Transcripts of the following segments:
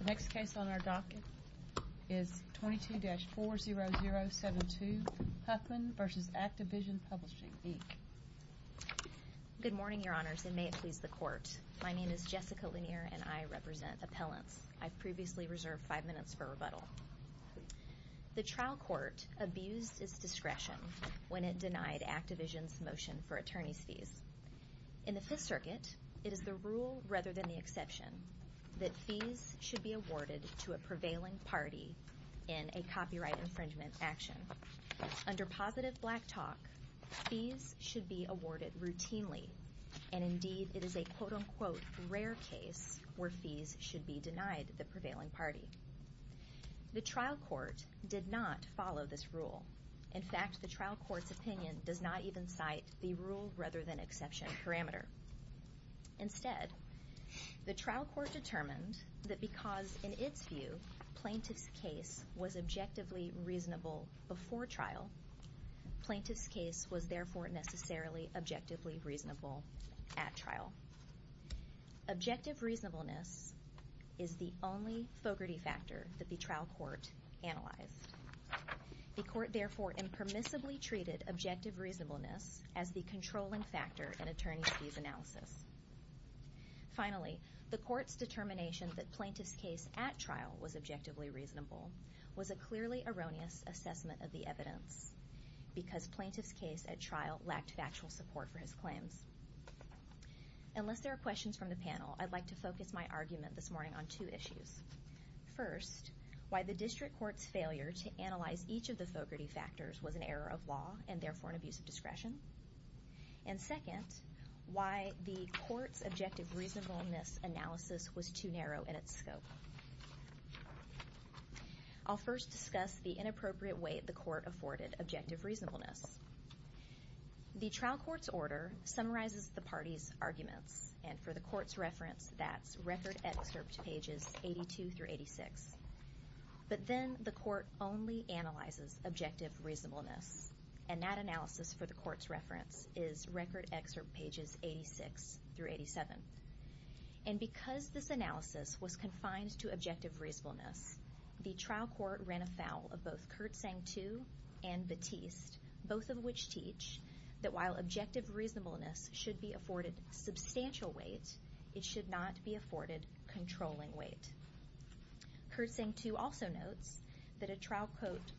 The next case on our docket is 22-40072, Huffman v. Activision Publishing, Inc. Good morning, Your Honors, and may it please the Court. My name is Jessica Lanier, and I represent Appellants. I've previously reserved five minutes for rebuttal. The trial court abused its discretion when it denied Activision's motion for attorney's fees. In the Fifth Circuit, it is the rule rather than the exception that fees should be awarded to a prevailing party in a copyright infringement action. Under positive black talk, fees should be awarded routinely, and indeed it is a quote-unquote rare case where fees should be denied the prevailing party. The trial court did not follow this rule. In fact, the trial court's opinion does not even cite the rule rather than exception parameter. Instead, the trial court determined that because, in its view, plaintiff's case was objectively reasonable before trial, plaintiff's case was therefore necessarily objectively reasonable at trial. Objective reasonableness is the only Fogarty factor that the trial court analyzed. The court therefore impermissibly treated objective reasonableness as the controlling factor in attorney's fees analysis. Finally, the court's determination that plaintiff's case at trial was objectively reasonable was a clearly erroneous assessment of the evidence because plaintiff's case at trial lacked factual support for his claims. Unless there are questions from the panel, I'd like to focus my argument this morning on two issues. First, why the district court's failure to analyze each of the Fogarty factors was an error of law and therefore an abuse of discretion. And second, why the court's objective reasonableness analysis was too narrow in its scope. I'll first discuss the inappropriate way the court afforded objective reasonableness. The trial court's order summarizes the parties' arguments. And for the court's reference, that's record excerpt pages 82 through 86. But then the court only analyzes objective reasonableness. And that analysis, for the court's reference, is record excerpt pages 86 through 87. And because this analysis was confined to objective reasonableness, the trial court ran afoul of both Kurtzang II and Batiste, both of which teach that while objective reasonableness should be afforded substantial weight, it should not be afforded controlling weight. Kurtzang II also notes that a trial court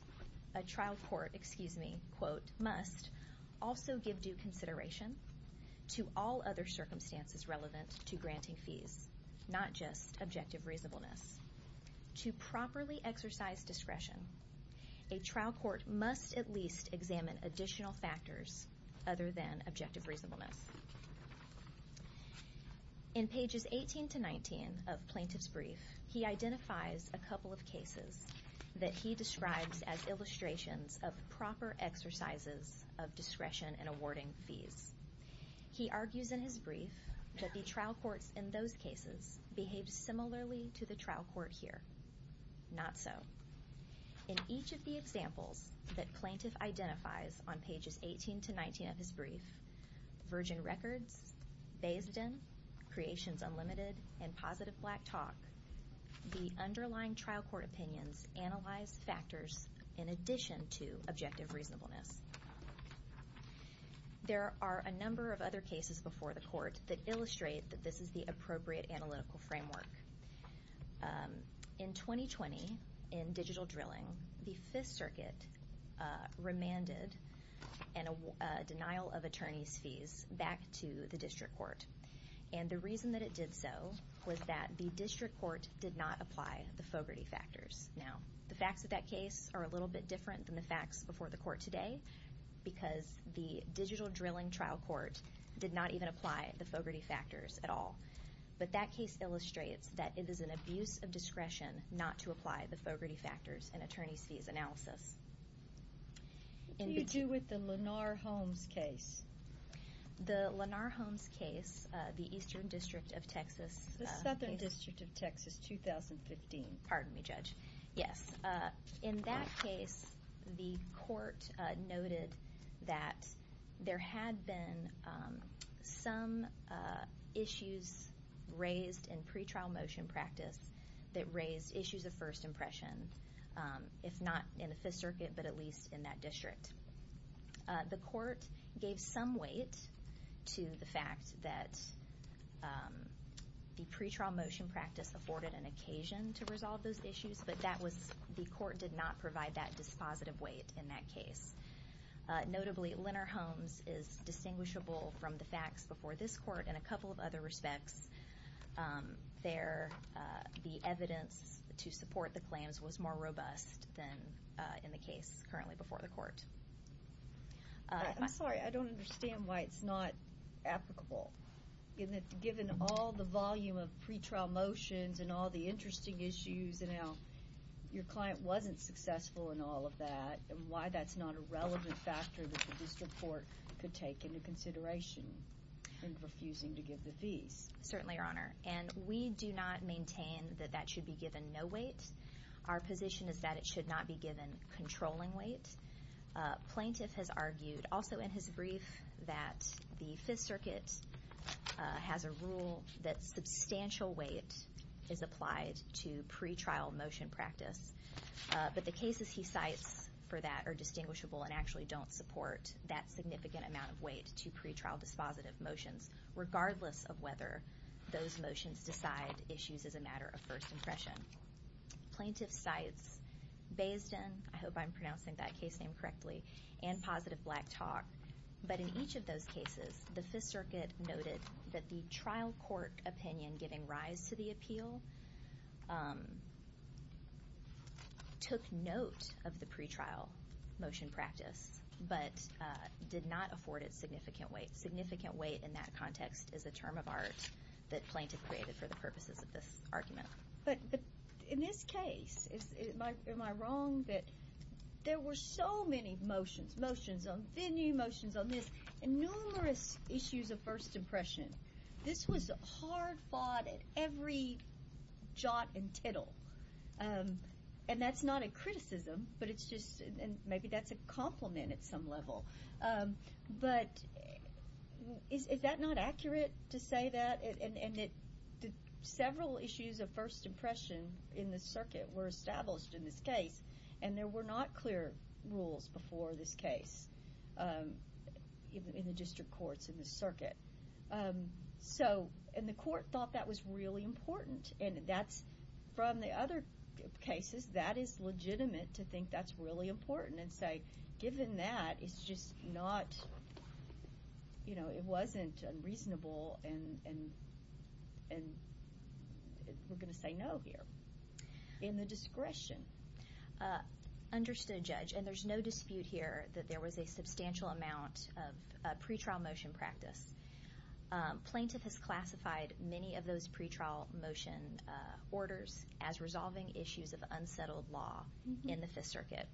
must also give due consideration to all other circumstances relevant to granting fees, not just objective reasonableness. To properly exercise discretion, a trial court must at least examine additional factors other than objective reasonableness. In pages 18 to 19 of Plaintiff's Brief, he identifies a couple of cases that he describes as illustrations of proper exercises of discretion in awarding fees. He argues in his brief that the trial courts in those cases behaved similarly to the trial court here. Not so. In each of the examples that Plaintiff identifies on pages 18 to 19 of his brief, Virgin Records, Bayes' Den, Creations Unlimited, and Positive Black Talk, the underlying trial court opinions analyze factors in addition to objective reasonableness. There are a number of other cases before the court that illustrate that this is the appropriate analytical framework. In 2020, in digital drilling, the Fifth Circuit remanded a denial of attorney's fees back to the district court. And the reason that it did so was that the district court did not apply the Fogarty factors. Now, the facts of that case are a little bit different than the facts before the court today, because the digital drilling trial court did not even apply the Fogarty factors at all. But that case illustrates that it is an abuse of discretion not to apply the Fogarty factors in attorney's fees analysis. What do you do with the Lenar Holmes case? The Lenar Holmes case, the Eastern District of Texas. The Southern District of Texas, 2015. Pardon me, Judge. Yes. In that case, the court noted that there had been some issues raised in pretrial motion practice that raised issues of first impression, if not in the Fifth Circuit, but at least in that district. The court gave some weight to the fact that the pretrial motion practice afforded an occasion to resolve those issues, but the court did not provide that dispositive weight in that case. Notably, Lenar Holmes is distinguishable from the facts before this court in a couple of other respects. The evidence to support the claims was more robust than in the case currently before the court. I'm sorry, I don't understand why it's not applicable. Given all the volume of pretrial motions and all the interesting issues and how your client wasn't successful in all of that and why that's not a relevant factor that the district court could take into consideration in refusing to give the fees. Certainly, Your Honor. And we do not maintain that that should be given no weight. Our position is that it should not be given controlling weight. Plaintiff has argued also in his brief that the Fifth Circuit has a rule that substantial weight is applied to pretrial motion practice, but the cases he cites for that are distinguishable and actually don't support that significant amount of weight to pretrial dispositive motions, regardless of whether those motions decide issues as a matter of first impression. Plaintiff cites Bayesden, I hope I'm pronouncing that case name correctly, and Positive Black Talk. But in each of those cases, the Fifth Circuit noted that the trial court opinion giving rise to the appeal took note of the pretrial motion practice, but did not afford it significant weight. Significant weight in that context is a term of art that plaintiff created for the purposes of this argument. But in this case, am I wrong that there were so many motions, motions on venue, motions on this, numerous issues of first impression. This was hard fought at every jot and tittle. And that's not a criticism, but it's just maybe that's a compliment at some level. But is that not accurate to say that? And several issues of first impression in the circuit were established in this case, and there were not clear rules before this case in the district courts in the circuit. And the court thought that was really important. And from the other cases, that is legitimate to think that's really important and say, given that, it's just not, you know, it wasn't unreasonable and we're going to say no here. In the discretion. Understood, Judge. And there's no dispute here that there was a substantial amount of pretrial motion practice. Plaintiff has classified many of those pretrial motion orders as resolving issues of unsettled law in the Fifth Circuit.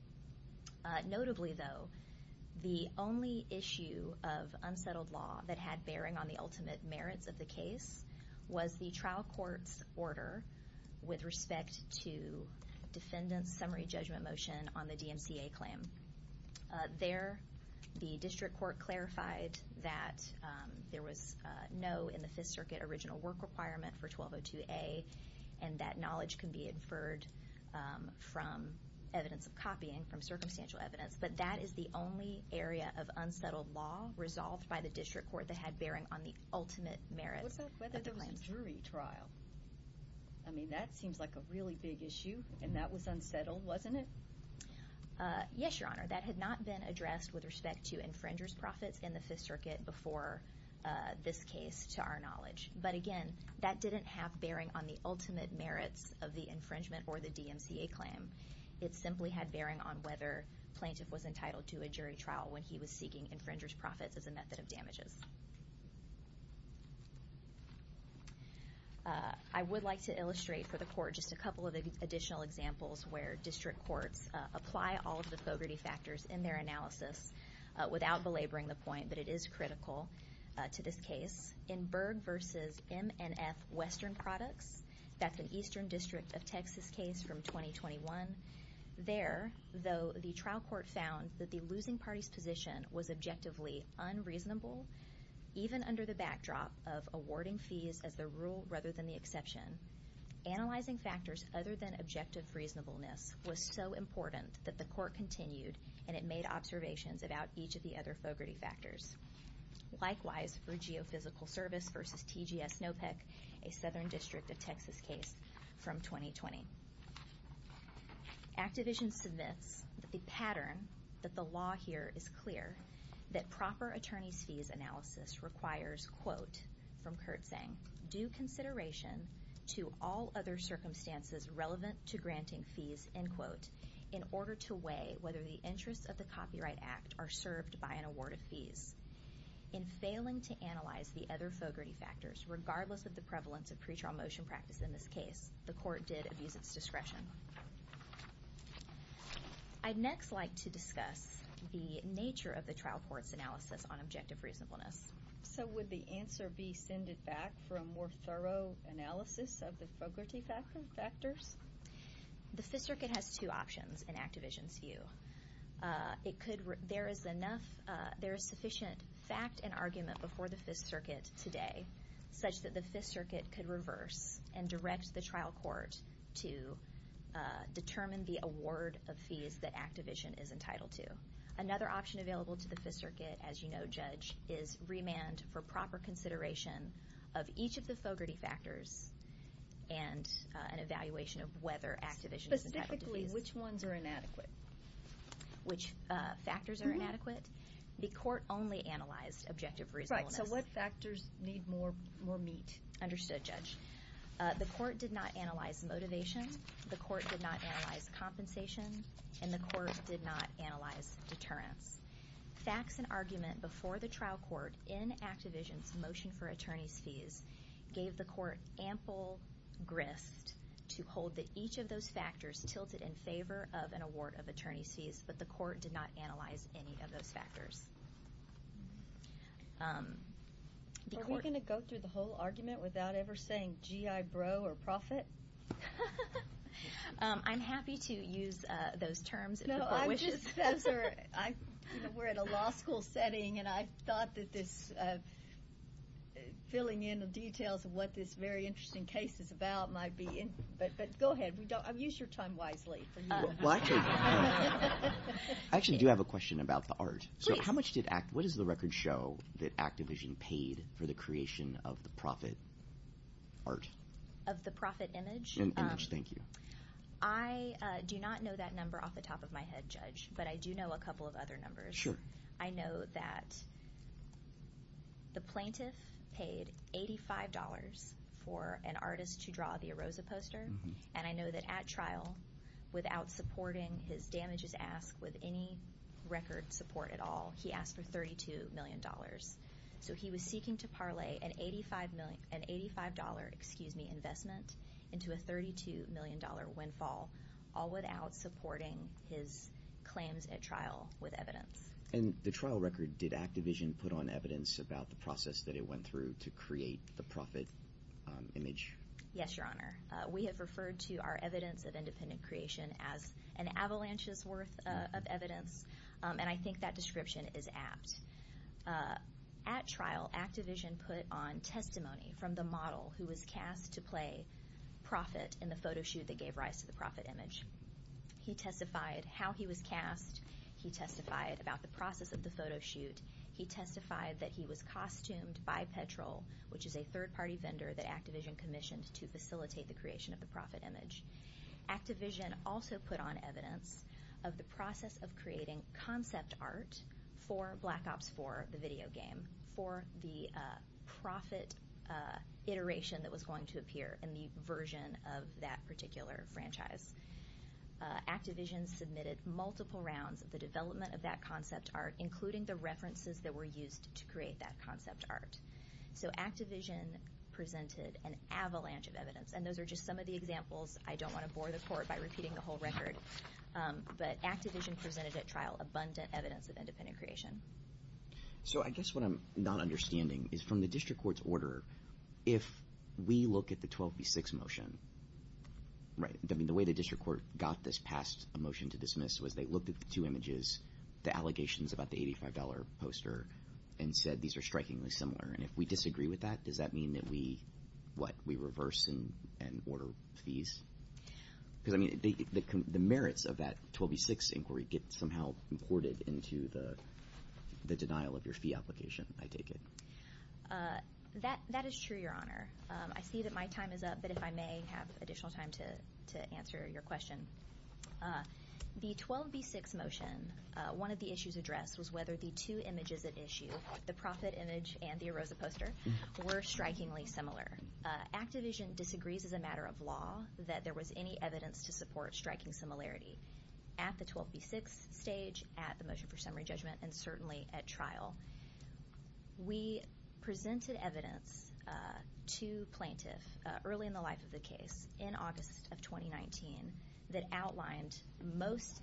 Notably, though, the only issue of unsettled law that had bearing on the ultimate merits of the case, was the trial court's order with respect to defendant's summary judgment motion on the DMCA claim. There, the district court clarified that there was no in the Fifth Circuit original work requirement for 1202A, and that knowledge can be inferred from evidence of copying, from circumstantial evidence. But that is the only area of unsettled law resolved by the district court that had bearing on the ultimate merits. What about whether there was a jury trial? I mean, that seems like a really big issue, and that was unsettled, wasn't it? Yes, Your Honor. That had not been addressed with respect to infringer's profits in the Fifth Circuit before this case, to our knowledge. But again, that didn't have bearing on the ultimate merits of the infringement or the DMCA claim. It simply had bearing on whether plaintiff was entitled to a jury trial when he was seeking infringer's profits as a method of damages. I would like to illustrate for the Court just a couple of additional examples where district courts apply all of the Fogarty factors in their analysis, without belaboring the point, but it is critical to this case. In Berg v. M&F Western Products, that's an Eastern District of Texas case from 2021. There, though, the trial court found that the losing party's position was objectively unreasonable, even under the backdrop of awarding fees as the rule rather than the exception. Analyzing factors other than objective reasonableness was so important that the court continued, and it made observations about each of the other Fogarty factors. Likewise, for Geophysical Service v. TGS NOPEC, a Southern District of Texas case from 2020. Activision submits that the pattern, that the law here is clear, that proper attorney's fees analysis requires, quote, from Kurtzang, due consideration to all other circumstances relevant to granting fees, end quote, in order to weigh whether the interests of the Copyright Act are served by an award of fees. In failing to analyze the other Fogarty factors, regardless of the prevalence of pretrial motion practice in this case, the court did abuse its discretion. I'd next like to discuss the nature of the trial court's analysis on objective reasonableness. So would the answer be send it back for a more thorough analysis of the Fogarty factors? The Fifth Circuit has two options in Activision's view. There is sufficient fact and argument before the Fifth Circuit today such that the Fifth Circuit could reverse and direct the trial court to determine the award of fees that Activision is entitled to. Another option available to the Fifth Circuit, as you know, Judge, is remand for proper consideration of each of the Fogarty factors and an evaluation of whether Activision is entitled to fees. Specifically, which ones are inadequate? Which factors are inadequate? The court only analyzed objective reasonableness. Right. So what factors need more meat? Understood, Judge. The court did not analyze motivation. The court did not analyze compensation. And the court did not analyze deterrence. Facts and argument before the trial court in Activision's motion for attorney's fees gave the court ample grist to hold that each of those factors tilted in favor of an award of attorney's fees, but the court did not analyze any of those factors. Are we going to go through the whole argument without ever saying GI bro or profit? I'm happy to use those terms if the court wishes. No, I'm just, you know, we're at a law school setting, and I thought that this, filling in the details of what this very interesting case is about might be, but go ahead. Use your time wisely. Well, I actually do have a question about the art. What is the record show that Activision paid for the creation of the profit art? Of the profit image? Image, thank you. I do not know that number off the top of my head, Judge, but I do know a couple of other numbers. Sure. I know that the plaintiff paid $85 for an artist to draw the Arosa poster, and I know that at trial, without supporting his damages ask with any record support at all, he asked for $32 million. So he was seeking to parlay an $85 investment into a $32 million windfall, all without supporting his claims at trial with evidence. And the trial record, did Activision put on evidence about the process that it went through to create the profit image? Yes, Your Honor. We have referred to our evidence of independent creation as an avalanche's worth of evidence, and I think that description is apt. At trial, Activision put on testimony from the model who was cast to play profit in the photo shoot that gave rise to the profit image. He testified how he was cast. He testified about the process of the photo shoot. He testified that he was costumed by Petrol, which is a third-party vendor that Activision commissioned to facilitate the creation of the profit image. Activision also put on evidence of the process of creating concept art for Black Ops 4, the video game, for the profit iteration that was going to appear in the version of that particular franchise. Activision submitted multiple rounds of the development of that concept art, including the references that were used to create that concept art. So Activision presented an avalanche of evidence, and those are just some of the examples. I don't want to bore the Court by repeating the whole record, but Activision presented at trial abundant evidence of independent creation. So I guess what I'm not understanding is from the district court's order, if we look at the 12 v. 6 motion, right? I mean, the way the district court got this past a motion to dismiss was they looked at the two images, the allegations about the $85 poster, and said these are strikingly similar. And if we disagree with that, does that mean that we reverse and order fees? Because, I mean, the merits of that 12 v. 6 inquiry get somehow imported into the denial of your fee application, I take it. That is true, Your Honor. I see that my time is up, but if I may have additional time to answer your question. The 12 v. 6 motion, one of the issues addressed was whether the two images at issue, the profit image and the Arosa poster, were strikingly similar. Activision disagrees as a matter of law that there was any evidence to support striking similarity at the 12 v. 6 stage, at the motion for summary judgment, and certainly at trial. We presented evidence to plaintiff early in the life of the case in August of 2019 that outlined most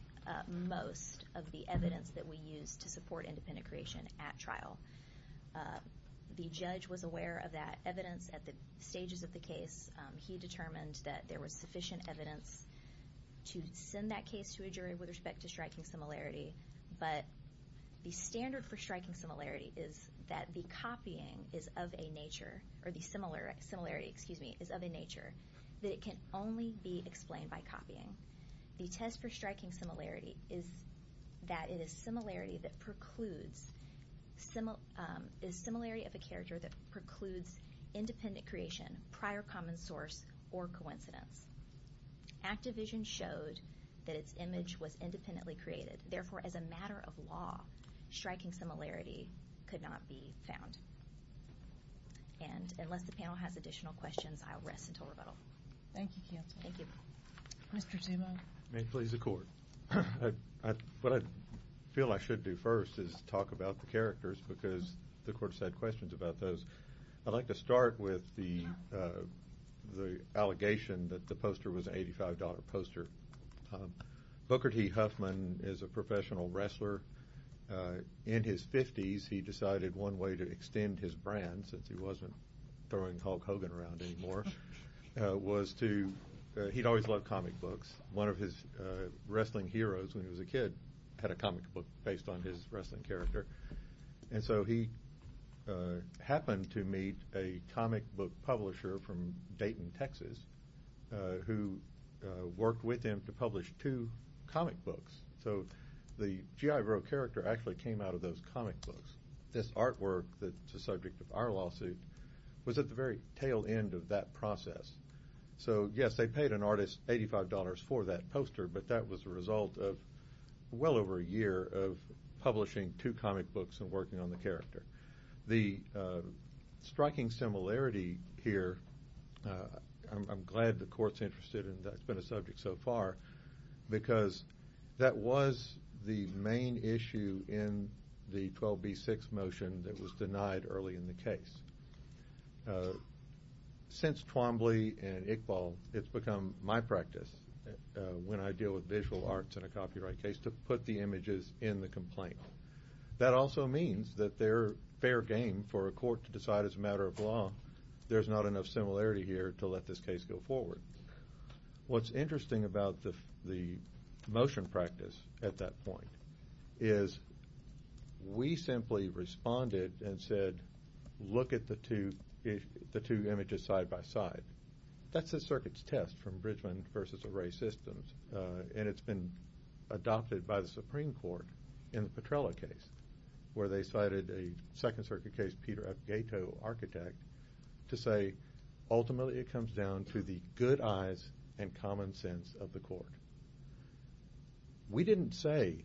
of the evidence that we used to support independent creation at trial. The judge was aware of that evidence at the stages of the case. He determined that there was sufficient evidence to send that case to a jury with respect to striking similarity. But the standard for striking similarity is that the copying is of a nature, or the similarity is of a nature, that it can only be explained by copying. The test for striking similarity is that it is similarity of a character that precludes independent creation, prior common source, or coincidence. Activision showed that its image was independently created. Therefore, as a matter of law, striking similarity could not be found. And unless the panel has additional questions, I'll rest until rebuttal. Thank you, Counsel. Thank you. Mr. Zemo. May it please the Court. What I feel I should do first is talk about the characters because the Court has had questions about those. I'd like to start with the allegation that the poster was an $85 poster. Booker T. Huffman is a professional wrestler. In his 50s, he decided one way to extend his brand, since he wasn't throwing Hulk Hogan around anymore, was to – he'd always loved comic books. One of his wrestling heroes when he was a kid had a comic book based on his wrestling character. And so he happened to meet a comic book publisher from Dayton, Texas, who worked with him to publish two comic books. So the GI Bill character actually came out of those comic books. This artwork that's the subject of our lawsuit was at the very tail end of that process. So, yes, they paid an artist $85 for that poster, but that was the result of well over a year of publishing two comic books and working on the character. The striking similarity here, I'm glad the Court's interested in that. It's been a subject so far because that was the main issue in the 12B6 motion that was denied early in the case. Since Twombly and Iqbal, it's become my practice, when I deal with visual arts in a copyright case, to put the images in the complaint. That also means that they're fair game for a court to decide as a matter of law, there's not enough similarity here to let this case go forward. What's interesting about the motion practice at that point is we simply responded and said, look at the two images side by side. That's the circuit's test from Bridgman v. Array Systems, and it's been adopted by the Supreme Court in the Petrella case, where they cited a Second Circuit case, Peter F. Gayto, architect, to say, ultimately it comes down to the good eyes and common sense of the court. We didn't say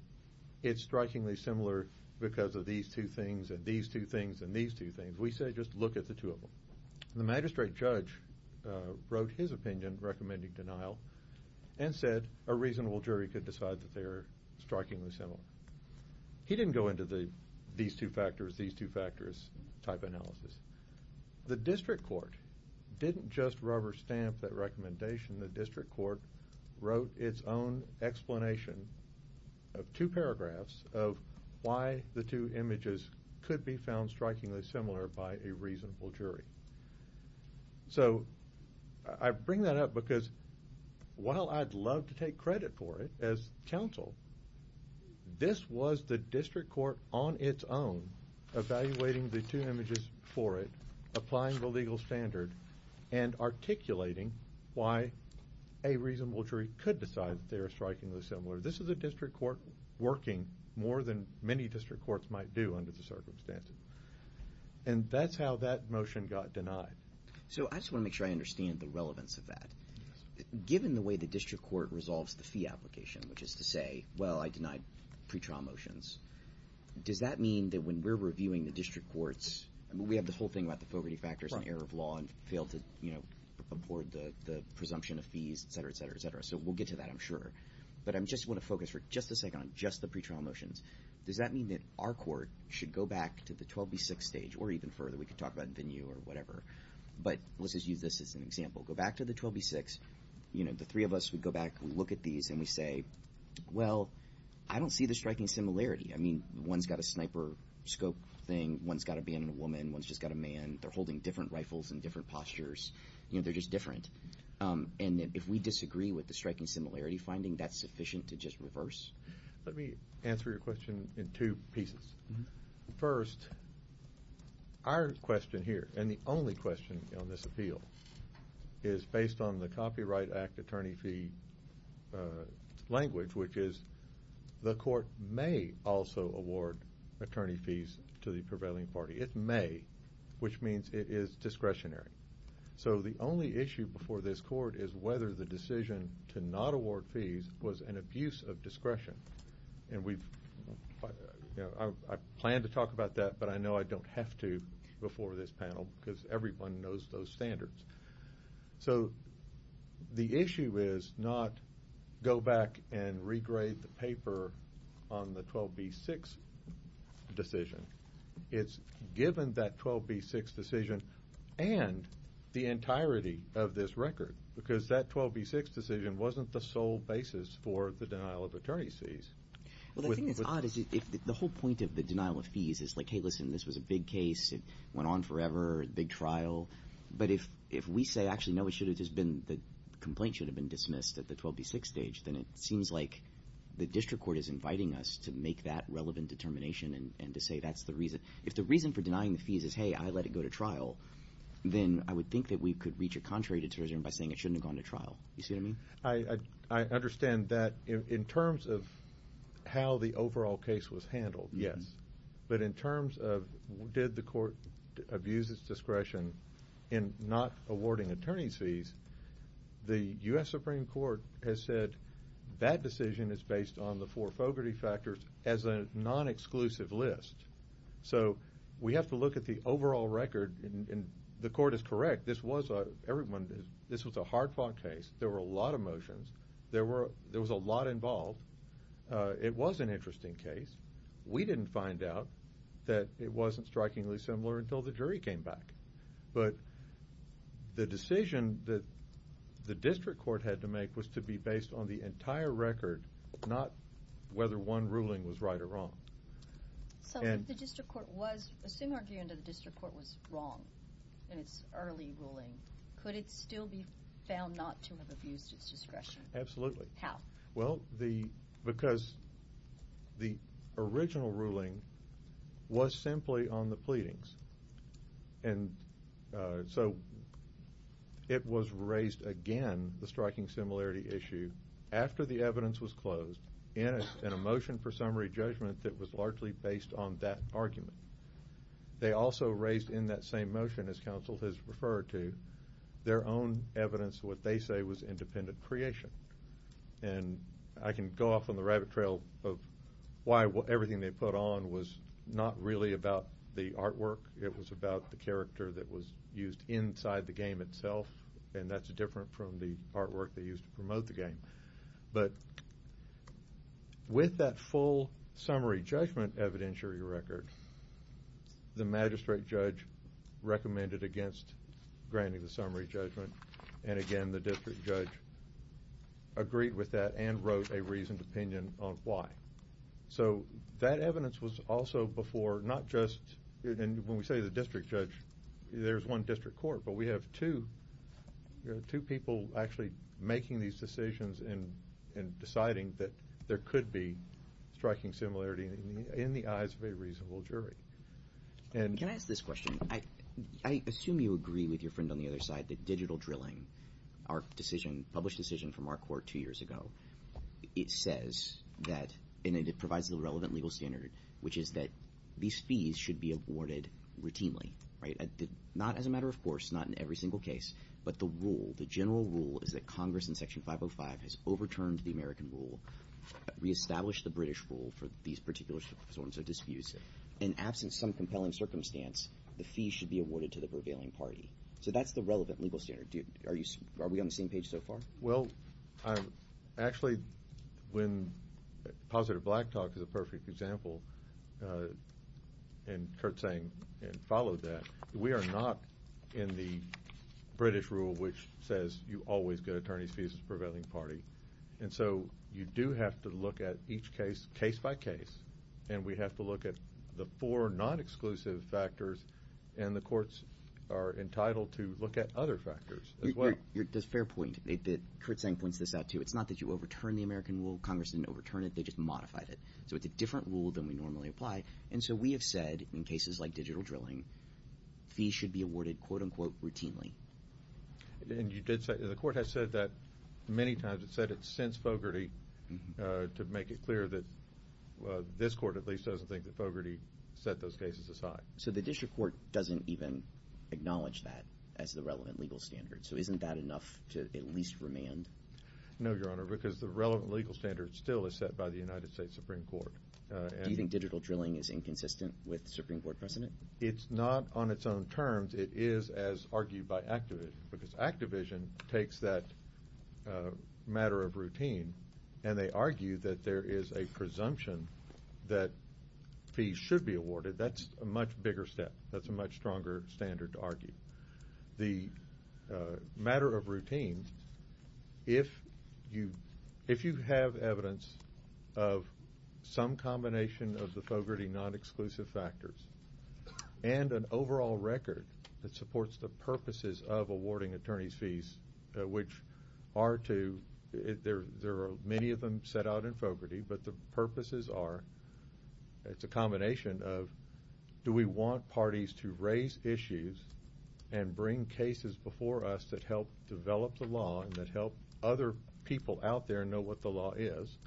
it's strikingly similar because of these two things and these two things and these two things. We said just look at the two of them. The magistrate judge wrote his opinion recommending denial and said a reasonable jury could decide that they are strikingly similar. He didn't go into the these two factors, these two factors type analysis. The district court didn't just rubber stamp that recommendation. The district court wrote its own explanation of two paragraphs of why the two images could be found strikingly similar by a reasonable jury. So I bring that up because while I'd love to take credit for it as counsel, this was the district court on its own evaluating the two images for it, applying the legal standard, and articulating why a reasonable jury could decide that they are strikingly similar. This is a district court working more than many district courts might do under the circumstances. And that's how that motion got denied. So I just want to make sure I understand the relevance of that. Given the way the district court resolves the fee application, which is to say, well, I denied pretrial motions, does that mean that when we're reviewing the district courts, we have this whole thing about the Fogarty factors and error of law and failed to afford the presumption of fees, et cetera, et cetera, et cetera. So we'll get to that, I'm sure. But I just want to focus for just a second on just the pretrial motions. Does that mean that our court should go back to the 12B6 stage or even further? We could talk about venue or whatever. But let's just use this as an example. Go back to the 12B6. The three of us would go back, look at these, and we say, well, I don't see the striking similarity. I mean, one's got a sniper scope thing, one's got a man and a woman, one's just got a man. They're holding different rifles and different postures. They're just different. And if we disagree with the striking similarity finding, that's sufficient to just reverse? Let me answer your question in two pieces. First, our question here, and the only question on this appeal, is based on the Copyright Act attorney fee language, which is the court may also award attorney fees to the prevailing party. It may, which means it is discretionary. So the only issue before this court is whether the decision to not award fees was an abuse of discretion. And I plan to talk about that, but I know I don't have to before this panel because everyone knows those standards. So the issue is not go back and regrade the paper on the 12B6 decision. It's given that 12B6 decision and the entirety of this record because that 12B6 decision wasn't the sole basis for the denial of attorney fees. Well, the thing that's odd is the whole point of the denial of fees is like, hey, listen, this was a big case. It went on forever, a big trial. But if we say, actually, no, it should have just been the complaint should have been dismissed at the 12B6 stage, then it seems like the district court is inviting us to make that relevant determination and to say that's the reason. If the reason for denying the fees is, hey, I let it go to trial, then I would think that we could reach a contrary determination by saying it shouldn't have gone to trial. You see what I mean? I understand that in terms of how the overall case was handled, yes. But in terms of did the court abuse its discretion in not awarding attorney fees, the U.S. Supreme Court has said that decision is based on the four fogarty factors as a non-exclusive list. So we have to look at the overall record, and the court is correct. This was a hard-fought case. There were a lot of motions. There was a lot involved. It was an interesting case. We didn't find out that it wasn't strikingly similar until the jury came back. But the decision that the district court had to make was to be based on the entire record, not whether one ruling was right or wrong. So if the district court was, assume our view that the district court was wrong in its early ruling, could it still be found not to have abused its discretion? Absolutely. How? Well, because the original ruling was simply on the pleadings. And so it was raised again, the striking similarity issue, after the evidence was closed in a motion for summary judgment that was largely based on that argument. They also raised in that same motion, as counsel has referred to, their own evidence of what they say was independent creation. And I can go off on the rabbit trail of why everything they put on was not really about the artwork. It was about the character that was used inside the game itself, and that's different from the artwork they used to promote the game. But with that full summary judgment evidentiary record, the magistrate judge recommended against granting the summary judgment, and again the district judge agreed with that and wrote a reasoned opinion on why. So that evidence was also before not just, and when we say the district judge, there's one district court, but we have two people actually making these decisions and deciding that there could be striking similarity in the eyes of a reasonable jury. Can I ask this question? I assume you agree with your friend on the other side that digital drilling, our published decision from our court two years ago, it says that, and it provides the relevant legal standard, which is that these fees should be awarded routinely, right, not as a matter of course, not in every single case, but the rule, the general rule, is that Congress in Section 505 has overturned the American rule, reestablished the British rule for these particular sorts of disputes, and absent some compelling circumstance, the fee should be awarded to the prevailing party. So that's the relevant legal standard. Are we on the same page so far? Well, actually, when Positive Black Talk is a perfect example, and Kurt sang and followed that, we are not in the British rule, which says you always get attorney's fees from the prevailing party. And so you do have to look at each case, case by case, and we have to look at the four non-exclusive factors, and the courts are entitled to look at other factors as well. Fair point. Kurt sang points this out too. It's not that you overturned the American rule. Congress didn't overturn it. They just modified it. So it's a different rule than we normally apply. And so we have said in cases like digital drilling, fees should be awarded, quote, unquote, routinely. And you did say, the court has said that many times. It's said it since Fogarty to make it clear that this court at least doesn't think that Fogarty set those cases aside. So the district court doesn't even acknowledge that as the relevant legal standard. So isn't that enough to at least remand? No, Your Honor, because the relevant legal standard still is set by the United States Supreme Court. Do you think digital drilling is inconsistent with Supreme Court precedent? It's not on its own terms. It is as argued by Activision, because Activision takes that matter of routine, and they argue that there is a presumption that fees should be awarded. That's a much bigger step. That's a much stronger standard to argue. But the matter of routine, if you have evidence of some combination of the Fogarty non-exclusive factors and an overall record that supports the purposes of awarding attorney's fees, which are to – there are many of them set out in Fogarty, but the purposes are – do we want parties to raise issues and bring cases before us that help develop the law and that help other people out there know what the law is?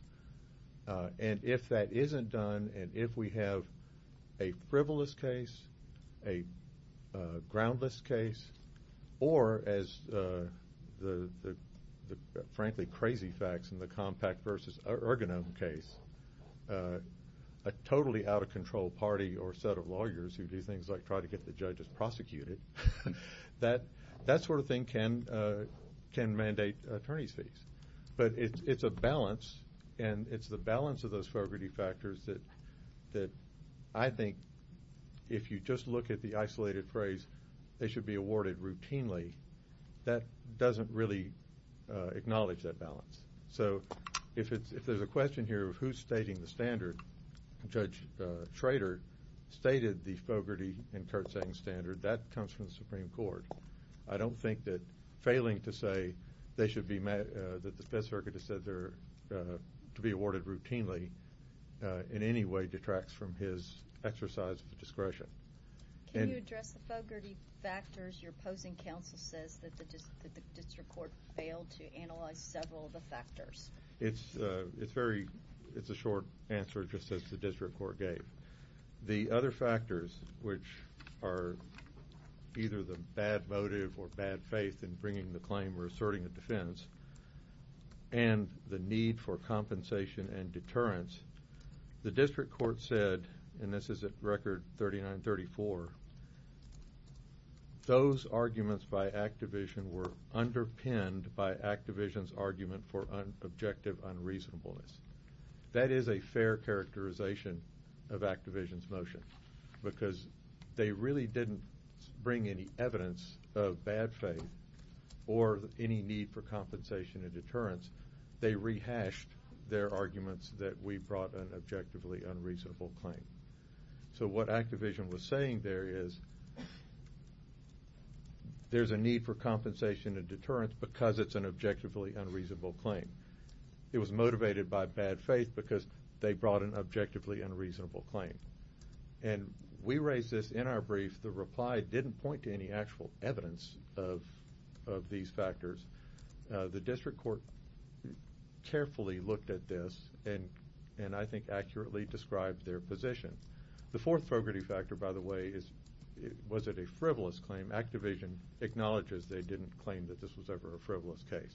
And if that isn't done, and if we have a frivolous case, a groundless case, or as the, frankly, crazy facts in the compact versus ergonomic case, a totally out-of-control party or set of lawyers who do things like try to get the judges prosecuted, that sort of thing can mandate attorney's fees. But it's a balance, and it's the balance of those Fogarty factors that I think, if you just look at the isolated phrase, they should be awarded routinely, that doesn't really acknowledge that balance. So if there's a question here of who's stating the standard, Judge Schroeder stated the Fogarty and Kurtzang standard. That comes from the Supreme Court. I don't think that failing to say they should be – in any way detracts from his exercise of discretion. Can you address the Fogarty factors? Your opposing counsel says that the district court failed to analyze several of the factors. It's very – it's a short answer just as the district court gave. The other factors, which are either the bad motive or bad faith in bringing the claim or asserting a defense, and the need for compensation and deterrence, the district court said, and this is at Record 3934, those arguments by Activision were underpinned by Activision's argument for objective unreasonableness. That is a fair characterization of Activision's motion because they really didn't bring any evidence of bad faith or any need for compensation and deterrence. They rehashed their arguments that we brought an objectively unreasonable claim. So what Activision was saying there is there's a need for compensation and deterrence because it's an objectively unreasonable claim. It was motivated by bad faith because they brought an objectively unreasonable claim. And we raised this in our brief. The reply didn't point to any actual evidence of these factors. The district court carefully looked at this and I think accurately described their position. The fourth Fogarty factor, by the way, was it a frivolous claim. Activision acknowledges they didn't claim that this was ever a frivolous case.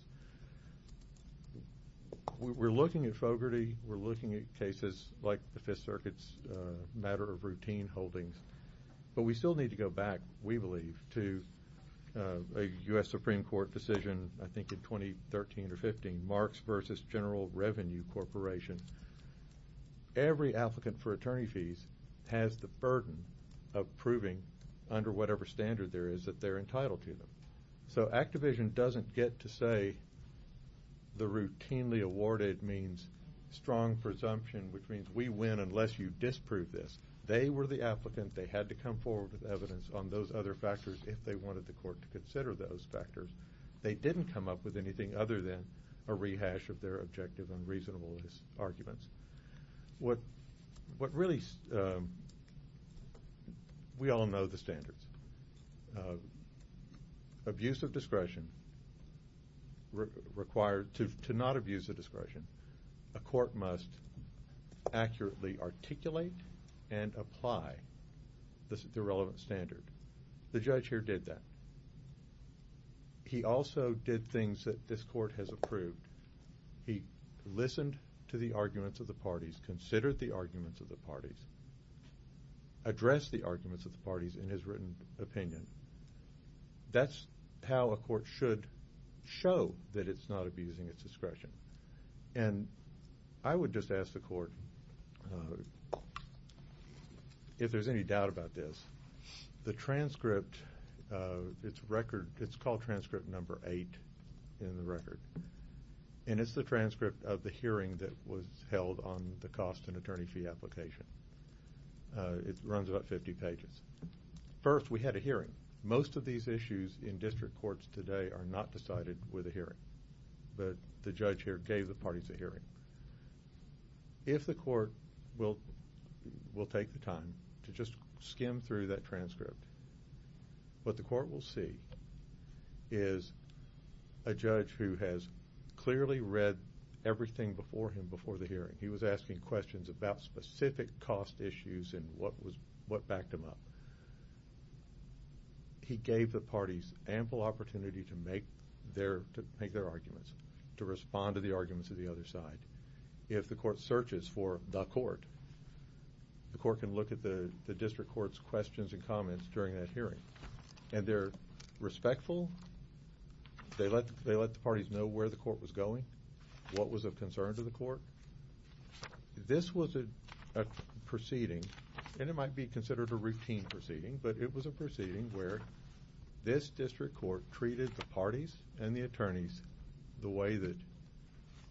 We're looking at Fogarty. We're looking at cases like the Fifth Circuit's matter of routine holdings. But we still need to go back, we believe, to a U.S. Supreme Court decision, I think in 2013 or 15, Marks v. General Revenue Corporation. Every applicant for attorney fees has the burden of proving under whatever standard there is that they're entitled to them. So Activision doesn't get to say the routinely awarded means strong presumption, which means we win unless you disprove this. They were the applicant. They had to come forward with evidence on those other factors if they wanted the court to consider those factors. They didn't come up with anything other than a rehash of their objective and reasonable arguments. What really we all know the standards. Abuse of discretion required to not abuse of discretion, a court must accurately articulate and apply the relevant standard. The judge here did that. He also did things that this court has approved. He listened to the arguments of the parties, considered the arguments of the parties, addressed the arguments of the parties in his written opinion. That's how a court should show that it's not abusing its discretion. And I would just ask the court if there's any doubt about this, the transcript, it's called transcript number eight in the record, and it's the transcript of the hearing that was held on the cost and attorney fee application. It runs about 50 pages. First, we had a hearing. Most of these issues in district courts today are not decided with a hearing, but the judge here gave the parties a hearing. If the court will take the time to just skim through that transcript, what the court will see is a judge who has clearly read everything before him before the hearing. He was asking questions about specific cost issues and what backed him up. He gave the parties ample opportunity to make their arguments, to respond to the arguments of the other side. If the court searches for the court, the court can look at the district court's questions and comments during that hearing, and they're respectful. They let the parties know where the court was going, what was of concern to the court. This was a proceeding, and it might be considered a routine proceeding, but it was a proceeding where this district court treated the parties and the attorneys the way that,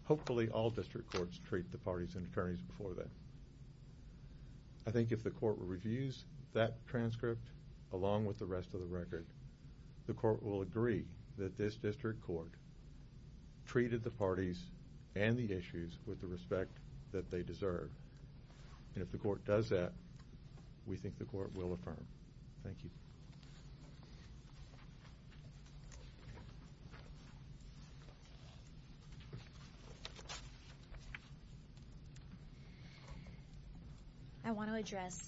hopefully, all district courts treat the parties and attorneys before them. I think if the court reviews that transcript along with the rest of the record, the court will agree that this district court treated the parties and the issues with the respect that they deserve. And if the court does that, we think the court will affirm. Thank you. I want to address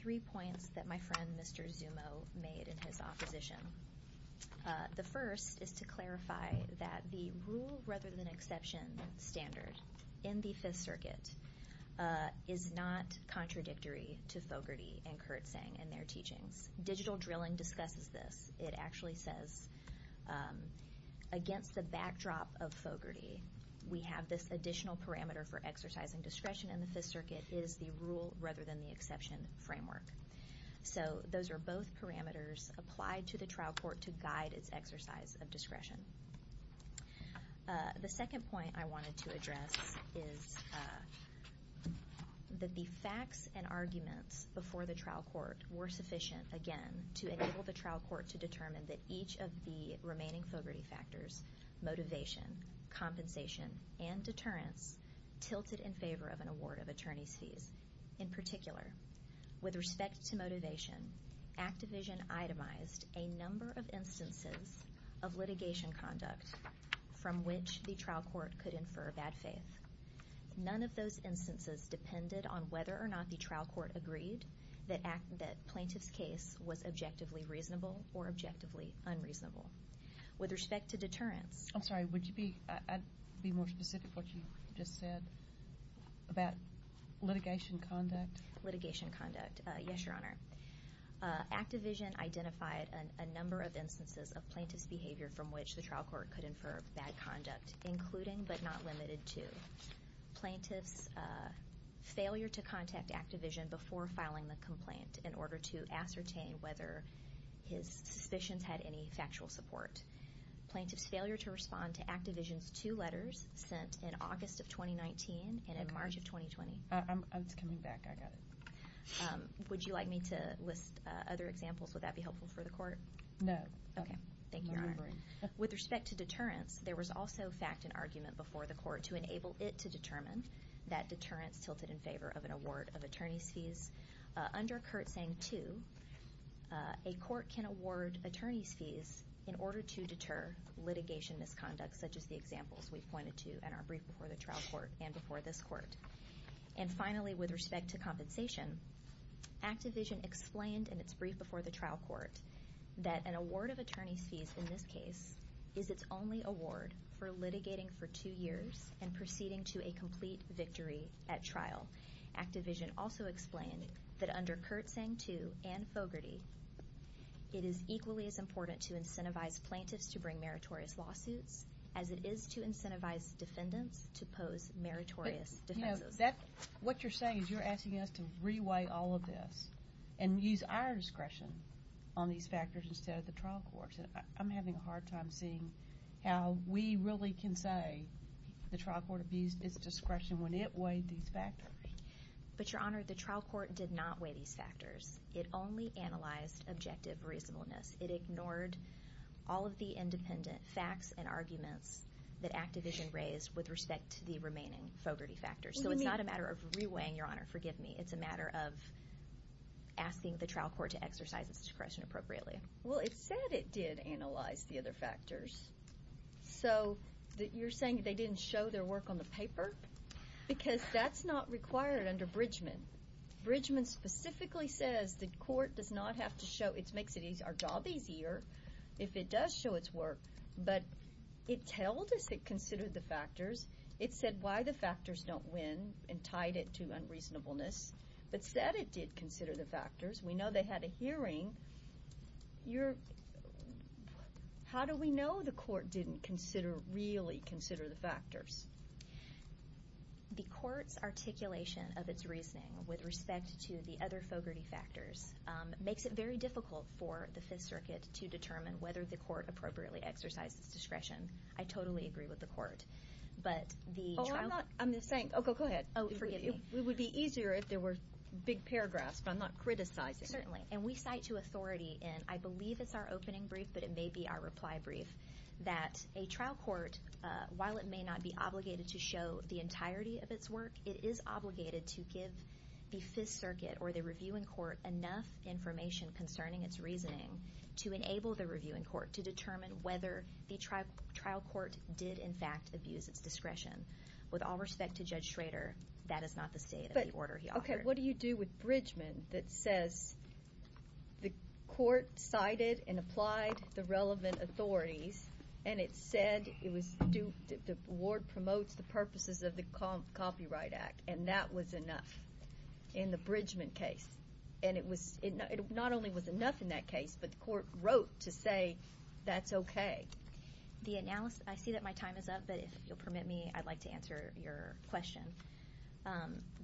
three points that my friend Mr. Zumo made in his opposition. The first is to clarify that the rule rather than exception standard in the Fifth Circuit is not contradictory to Fogarty and Kurtzang and their teachings. Digital drilling discusses this. It actually says against the backdrop of Fogarty, we have this additional parameter for exercising discretion in the Fifth Circuit is the rule rather than the exception framework. So those are both parameters applied to the trial court to guide its exercise of discretion. The second point I wanted to address is that the facts and arguments before the trial court were sufficient, again, to enable the trial court to determine that each of the remaining Fogarty factors, motivation, compensation, and deterrence, tilted in favor of an award of attorney's fees. In particular, with respect to motivation, ActiVision itemized a number of instances of litigation conduct from which the trial court could infer bad faith. None of those instances depended on whether or not the trial court agreed that plaintiff's case was objectively reasonable or objectively unreasonable. With respect to deterrence... I'm sorry, would you be more specific what you just said about litigation conduct? Litigation conduct. Yes, Your Honor. ActiVision identified a number of instances of plaintiff's behavior from which the trial court could infer bad conduct, including but not limited to plaintiff's failure to contact ActiVision before filing the complaint in order to ascertain whether his suspicions had any factual support, plaintiff's failure to respond to ActiVision's two letters sent in August of 2019 and in March of 2020. It's coming back. I got it. Would you like me to list other examples? Would that be helpful for the court? No. Okay. Thank you, Your Honor. With respect to deterrence, there was also fact and argument before the court to enable it to determine that deterrence tilted in favor of an award of attorney's fees. Under CURT SANG-2, a court can award attorney's fees in order to deter litigation misconduct, such as the examples we've pointed to in our brief before the trial court and before this court. And finally, with respect to compensation, ActiVision explained in its brief before the trial court that an award of attorney's fees in this case is its only award for litigating for two years and proceeding to a complete victory at trial. ActiVision also explained that under CURT SANG-2 and Fogarty, it is equally as important to incentivize plaintiffs to bring meritorious lawsuits as it is to incentivize defendants to pose meritorious defenses. What you're saying is you're asking us to reweigh all of this and use our discretion on these factors instead of the trial court's. I'm having a hard time seeing how we really can say the trial court abused its discretion when it weighed these factors. But, Your Honor, the trial court did not weigh these factors. It only analyzed objective reasonableness. It ignored all of the independent facts and arguments that ActiVision raised with respect to the remaining Fogarty factors. So it's not a matter of reweighing, Your Honor. Forgive me. It's a matter of asking the trial court to exercise its discretion appropriately. Well, it said it did analyze the other factors. So you're saying they didn't show their work on the paper? Because that's not required under Bridgman. Bridgman specifically says the court does not have to show. It makes our job easier if it does show its work. But it tells us it considered the factors. It said why the factors don't win and tied it to unreasonableness, but said it did consider the factors. We know they had a hearing. How do we know the court didn't really consider the factors? The court's articulation of its reasoning with respect to the other Fogarty factors makes it very difficult for the Fifth Circuit to determine whether the court appropriately exercised its discretion. I totally agree with the court. Oh, go ahead. It would be easier if there were big paragraphs, but I'm not criticizing. Certainly. And we cite to authority in, I believe it's our opening brief, but it may be our reply brief, that a trial court, while it may not be obligated to show the entirety of its work, it is obligated to give the Fifth Circuit or the reviewing court enough information concerning its reasoning to enable the reviewing court to determine whether the trial court did, in fact, abuse its discretion. With all respect to Judge Schrader, that is not the state of the order he offered. Okay, what do you do with Bridgman that says the court cited and applied the relevant authorities, and it said the ward promotes the purposes of the Copyright Act, and that was enough in the Bridgman case. And it not only was enough in that case, but the court wrote to say that's okay. I see that my time is up, but if you'll permit me, I'd like to answer your question.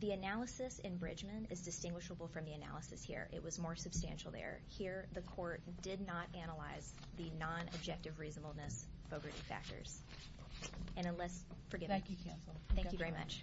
The analysis in Bridgman is distinguishable from the analysis here. It was more substantial there. Here the court did not analyze the non-objective reasonableness Fogarty factors. And unless, forgive me. Thank you, Counsel. Thank you very much.